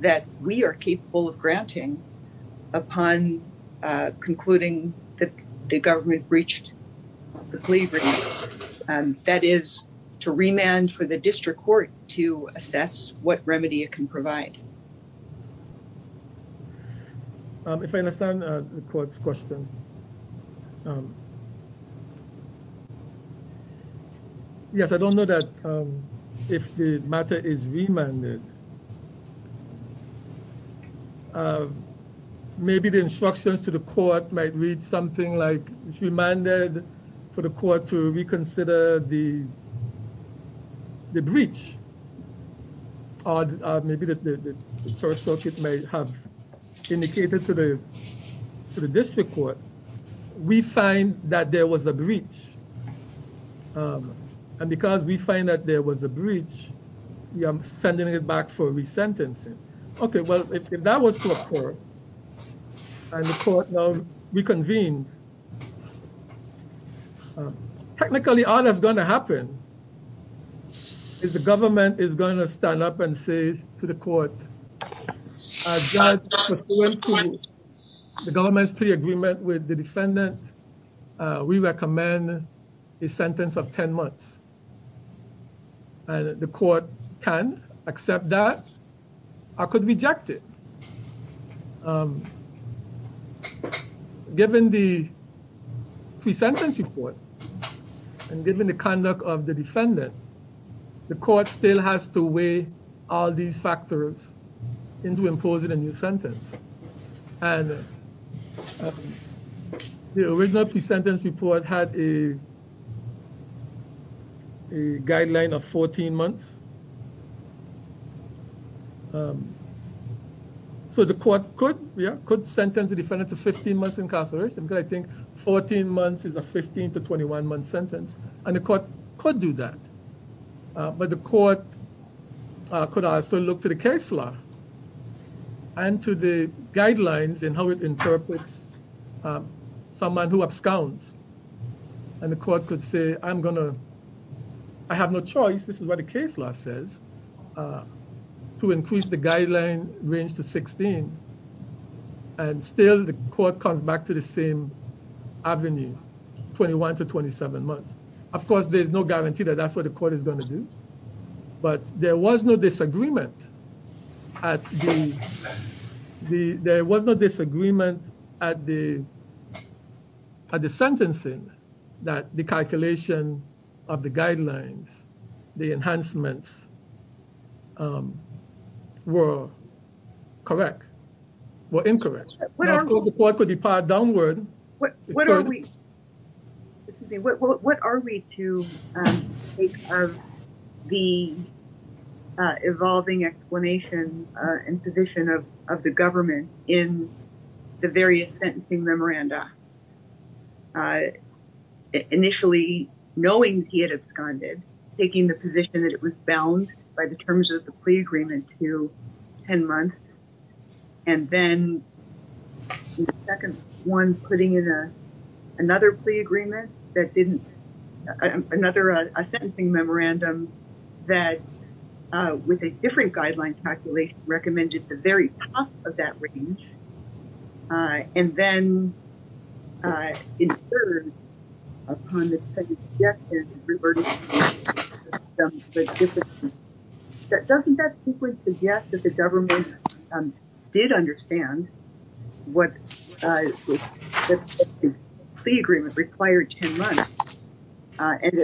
that we are capable of granting upon, uh, concluding that the government breached the plea agreement. Um, to remand for the district court to assess what remedy it can provide. Um, if I understand the court's question, um, yes, I don't know that, um, if the matter is remanded, uh, maybe the instructions to the court might read something like remanded for the court to reconsider the, the breach. Or maybe the third circuit may have indicated to the, to the district court, we find that there was a breach. Um, and because we find that there was a breach, I'm sending it back for re-sentencing. Okay, well, if that was to a court and the court reconvenes, technically all that's going to happen is the government is going to stand up and say to the court, the government's plea agreement with the defendant, uh, we recommend a sentence of 10 months and the court can accept that or could reject it. Um, given the pre-sentence report and given the conduct of the defendant, the court still has to weigh all these factors into imposing a new sentence. And the original pre-sentence report had a, a guideline of 14 months. Um, so the court could, yeah, could sentence the defendant to 15 months incarceration, but I think 14 months is a 15 to 21 month sentence and the court could do that. But the court could also look to the case law and to the guidelines and how it interprets someone who absconds. And the court could say, I'm gonna, I have no choice, this is what the case law says, to increase the guideline range to 16. And still the court comes back to the same avenue, 21 to 27 months. Of course, there's no guarantee that that's what the court is going to do, but there was no disagreement at the, the, there was no disagreement at the, at the sentencing that the calculation of the guidelines, the enhancements, um, were correct, were incorrect. The court could depart downward. What are we, excuse me, what, what, what are we to, um, take of the, uh, evolving explanation, uh, and position of, of the government in the various sentencing memoranda? Uh, initially knowing he had absconded, taking the position that it was bound by the terms of the plea agreement to 10 months. And then the second one putting in a, another plea agreement that didn't, another, uh, a sentencing memorandum that, uh, with a different guideline calculation recommended the very top of that range. Uh, and then, uh, in third, upon the second suggestion, doesn't that suggest that the government, um, did understand what, uh, the agreement required 10 months in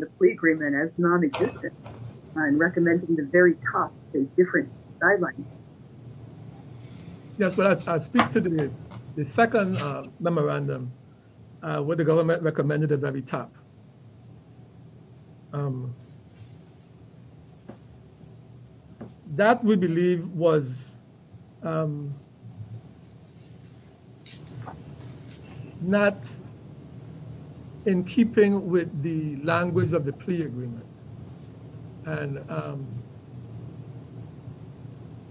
the plea agreement as non-existent and recommending the very top in different guidelines? Yes, I speak to the, the second, uh, memorandum, uh, where the government recommended the very top. Um, that we believe was, um, um, not in keeping with the language of the plea agreement. And, um,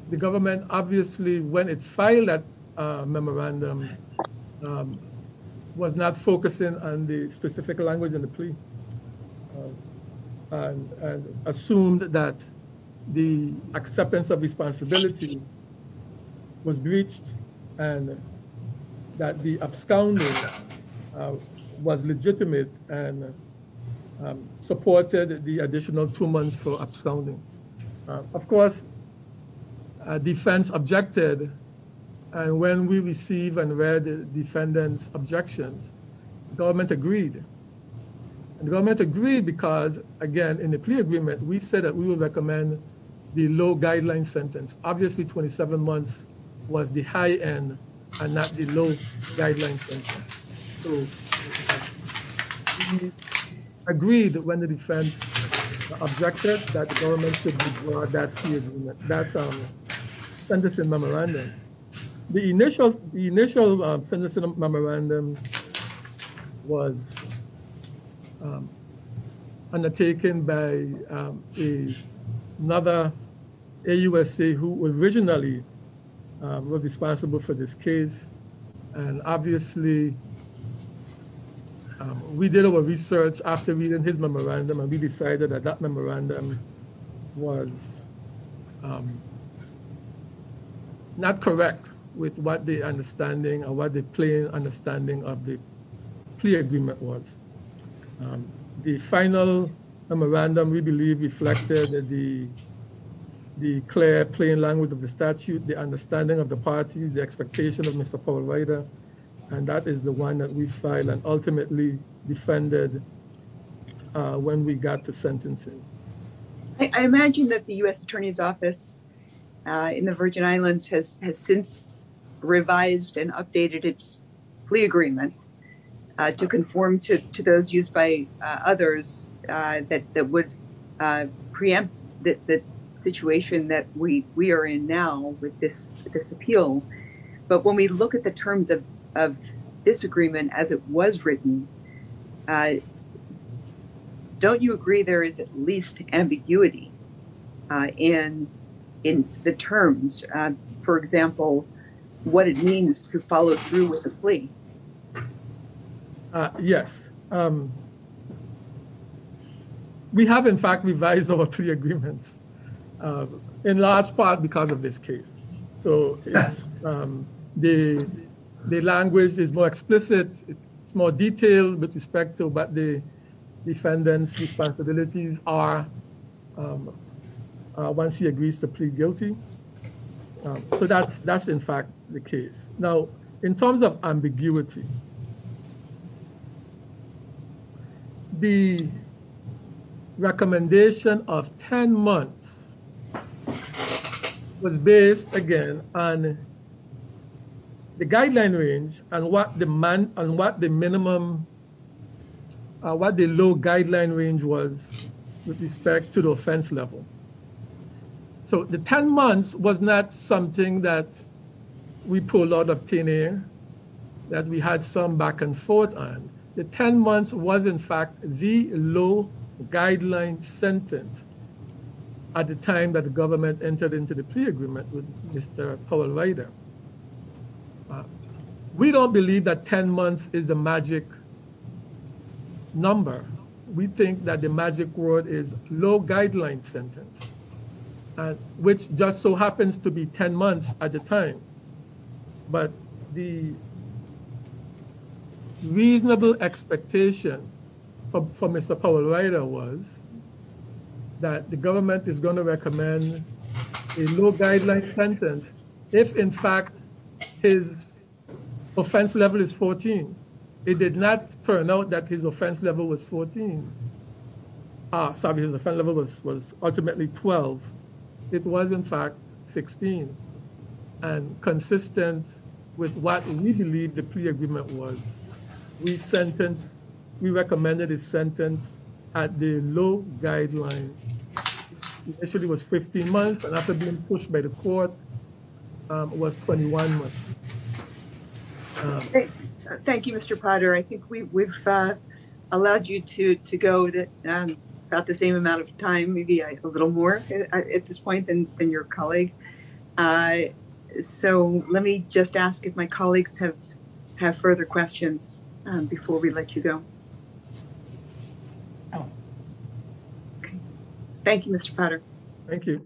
the government, obviously, when it filed that, uh, memorandum, um, was not focusing on the specific language in the plea and assumed that the acceptance of responsibility was breached and that the absconding, uh, was legitimate and, um, supported the additional two months for absconding. Uh, of course, uh, defense objected. And when we receive and read the defendant's objections, the government agreed. The government agreed because, again, in the plea agreement, we said that we will recommend the low guideline sentence. Obviously, 27 months was the high end and not the low guideline sentence. So we agreed when the defense objected that the government should withdraw that plea agreement. That's our sentencing memorandum. The initial, the initial sentencing memorandum was, um, a, another AUSA who originally, um, was responsible for this case. And obviously, um, we did our research after reading his memorandum and we decided that that memorandum was, um, not correct with what the understanding or what the plain understanding of the agreement was. Um, the final memorandum, we believe reflected the, the clear, plain language of the statute, the understanding of the parties, the expectation of Mr. Paul Ryder. And that is the one that we filed and ultimately defended, uh, when we got to sentencing. I imagine that the U.S. Attorney's Office, uh, in the Virgin Islands has, has since revised and updated its plea agreement, uh, to conform to, to those used by others, uh, that, that would, uh, preempt the situation that we, we are in now with this, this appeal. But when we look at the terms of, of this agreement as it was written, uh, don't you agree there is at least ambiguity, uh, in, in the terms, uh, for example, what it means to follow through with the plea? Uh, yes. Um, we have in fact revised over three agreements, uh, in large part because of this case. So, um, the, the language is more explicit, it's more detailed with respect to what the defendant's responsibilities are, um, uh, once he agrees to plead guilty. So that's, that's in fact the case. Now in terms of ambiguity, the recommendation of 10 months was based again on the guideline range and what the man, and what the minimum, uh, what the low guideline range was with respect to the offense level. So the 10 months was not something that we pulled out of thin air, that we had some back and forth on. The 10 months was in fact the low guideline sentence at the time that the government entered into the plea agreement with Mr. Powell Ryder. We don't believe that 10 months is a magic number. We think that the magic word is low guideline sentence, uh, which just so happens to be 10 months at the time. But the reasonable expectation for Mr. Powell Ryder was that the government is going to recommend a low guideline sentence if in fact his offense level is 14. It did not turn out that his offense level was 14, uh, sorry, his offense level was, was ultimately 12. It was in fact 16, and consistent with what we believe the plea agreement was. We sentenced, we recommended his sentence at the low guideline. Initially it was 15 months, but after being pushed by the court, um, it was 21 months. Thank you, Mr. Potter. I think we, we've, uh, allowed you to, to go about the same amount of time, maybe a little more at this point than your colleague. Uh, so let me just ask if my colleagues have, have further questions before we let you go. Oh, okay. Thank you, Mr. Potter. Thank you.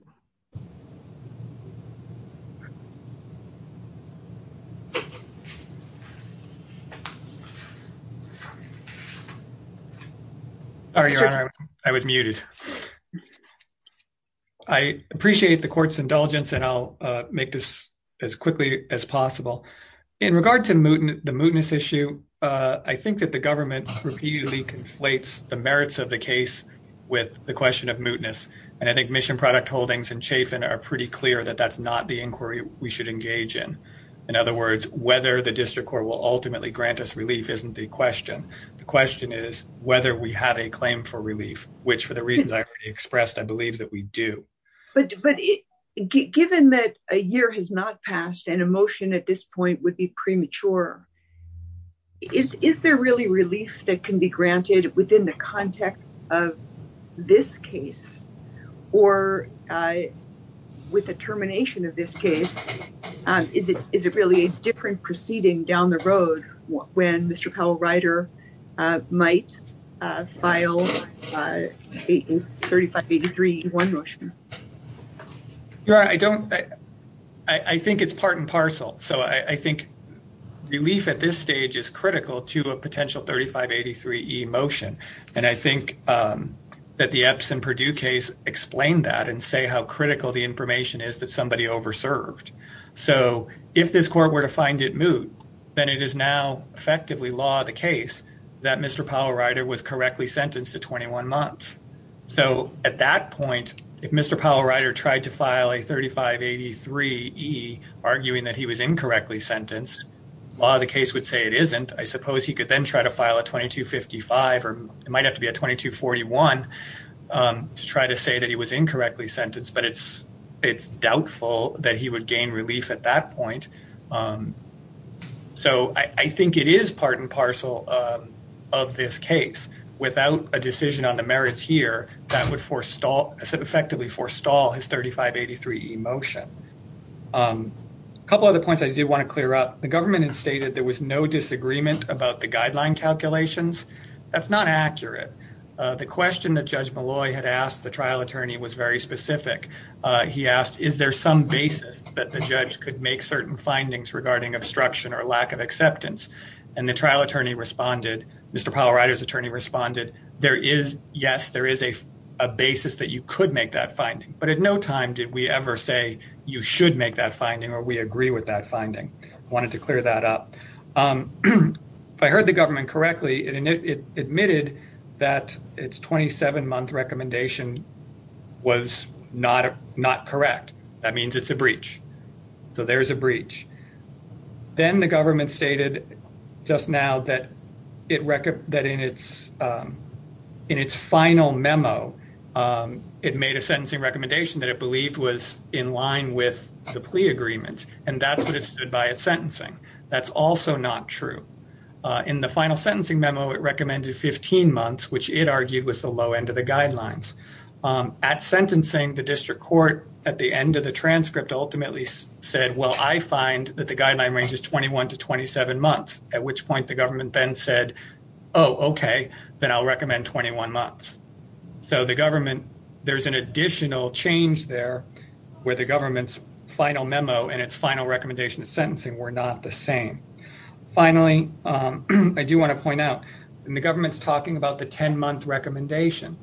All right. I was muted. I appreciate the court's indulgence and I'll make this as quickly as the merits of the case with the question of mootness. And I think Mission Product Holdings and Chafin are pretty clear that that's not the inquiry we should engage in. In other words, whether the district court will ultimately grant us relief isn't the question. The question is whether we have a claim for relief, which for the reasons I already expressed, I believe that we do. But, but given that a year has not passed and a motion at this point would be premature, is, is there really relief that can be granted within the context of this case or, uh, with the termination of this case, um, is it, is it really a different proceeding down the road when Mr. Powell-Ryder, uh, might, uh, file, uh, 3583E1 motion? You're right. I don't, I, I think it's part and parcel. So I, I think relief at this stage is critical to a potential 3583E motion. And I think, um, that the Epson-Purdue case explained that and say how critical the information is that somebody over-served. So if this court were to find it moot, then it is now effectively law of the case that Mr. Powell-Ryder was correctly sentenced to 21 months. So at that point, if Mr. Powell-Ryder tried to file a 3583E arguing that he was incorrectly sentenced, law of the case would say it isn't. I suppose he could then try to file a 2255 or it might have to be a 2241, um, to try to say that he was incorrectly sentenced, but it's, it's doubtful that he would gain relief at that point. Um, so I, I think it is part and parcel, um, of this case without a decision on the merits here that would forestall, effectively forestall his 3583E motion. Um, a couple other points I do want to clear up. The government had stated there was no disagreement about the guideline calculations. That's not accurate. Uh, the question that Judge Malloy had asked the trial attorney was very specific. Uh, he asked, is there some basis that the judge could make certain findings regarding obstruction or lack of acceptance? And the trial attorney responded, Mr. Powell-Ryder's attorney responded, there is, yes, there is a basis that you could make that finding, but at no time did we ever say you should make that finding or we agree with that finding. I wanted to clear that up. Um, if I heard the government correctly, it admitted that it's 27 month recommendation was not, uh, not correct. That means it's a breach. So there's a breach. Then the government stated just now that it reckoned that in its, um, in its final memo, um, it made a sentencing recommendation that it believed was in line with the plea agreement. And that's what it stood by its sentencing. That's also not true. Uh, in the final sentencing memo, it recommended 15 months, which it argued was the low end of the guidelines. Um, at sentencing, the district court at the end of the transcript ultimately said, well, I find that the guideline range is 21 to 27 months, at which point the government then said, oh, okay, then I'll recommend 21 months. So the government, there's an additional change there where the government's final memo and its final recommendation of sentencing were not the same. Finally, um, I do want to point out in the government's talking about the 10 month recommendation,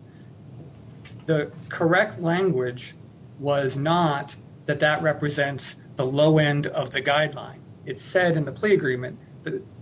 the correct language was not that that represents the low end of the guideline. It said in the plea agreement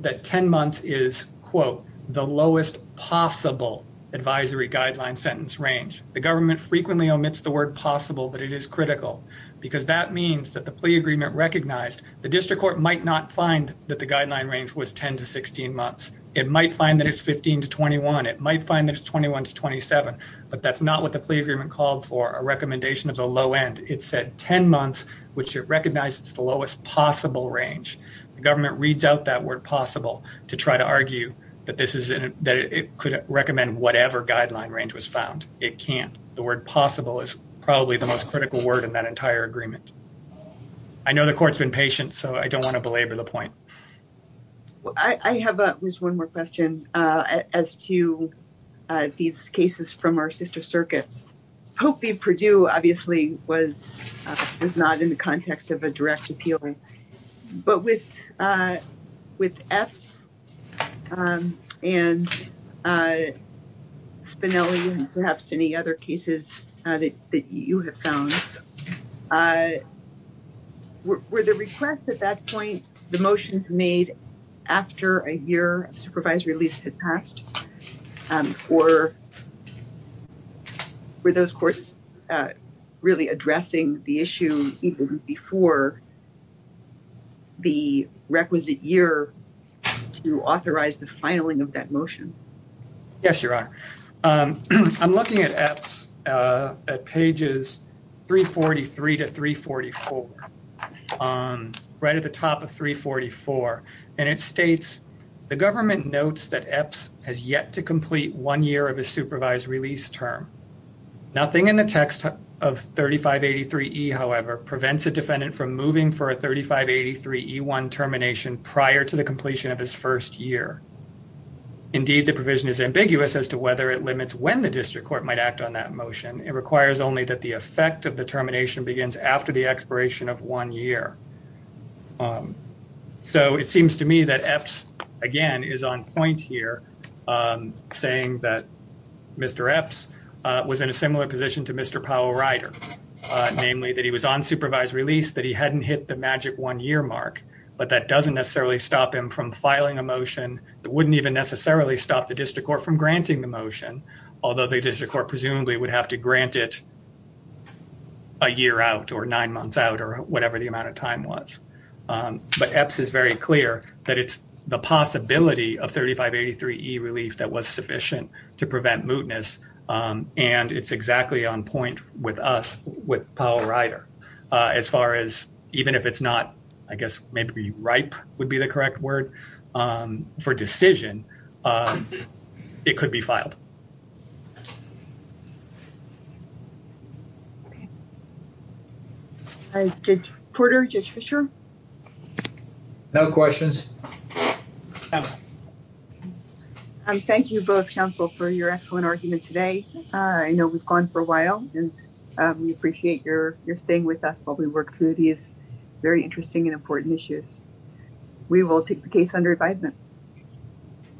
that 10 months is quote the lowest possible advisory guideline sentence range. The government frequently omits the word possible, but it is critical because that means that the plea agreement recognized the district court might not find that the guideline range was 10 to 16 months. It might find that it's 15 to 21. It might find that it's 21 to 27, but that's not what the plea agreement called for a recommendation of the low end. It said 10 months, which it recognized as the lowest possible range. The government reads out that word possible to try to argue that this is that it could recommend whatever guideline range was found. It can't. The word possible is probably the most critical word in that entire agreement. I know the court's been patient, so I don't want to belabor the point. I have just one more question as to these cases from our sister circuits. Pope v. Perdue obviously was not in the context of a direct appeal, but with EPS and Spinelli and perhaps any other cases that you have found, were the requests at that point the motions made after a year of supervisory release had passed, or were those courts really addressing the issue even before the requisite year to authorize the filing of that motion? Yes, Your Honor. I'm looking at EPS at pages 343 to 344, right at the top of 344, and it states the government notes that EPS has yet to complete one year of a supervised release term. Nothing in the text of 3583E, however, prevents a defendant from moving for a 3583E1 termination prior to the completion of his first year. Indeed, the provision is ambiguous as to whether it limits when the district court might act on that motion. It requires only that the effect of the termination begins after the expiration of one year. So it seems to me that EPS again is on point here, saying that Mr. EPS was in a similar position to Mr. Powell Ryder, namely that he was on supervised release, that he hadn't hit the magic one year mark, but that doesn't necessarily stop him from filing a motion. It wouldn't even necessarily stop the district court from granting the motion, although the district court presumably would have to grant it a year out or nine months out or whatever the amount of time was. But EPS is very clear that it's the possibility of 3583E relief that was sufficient to prevent mootness, and it's exactly on point with us, with Powell Ryder, as far as even if it's not, I guess, maybe ripe would be the correct word for decision, it could be filed. Judge Porter, Judge Fisher? No questions. Thank you both, Council, for your excellent argument today. I know we've gone for a while, and we appreciate your staying with us while we work through these very interesting and important issues. We will take the case under advisement.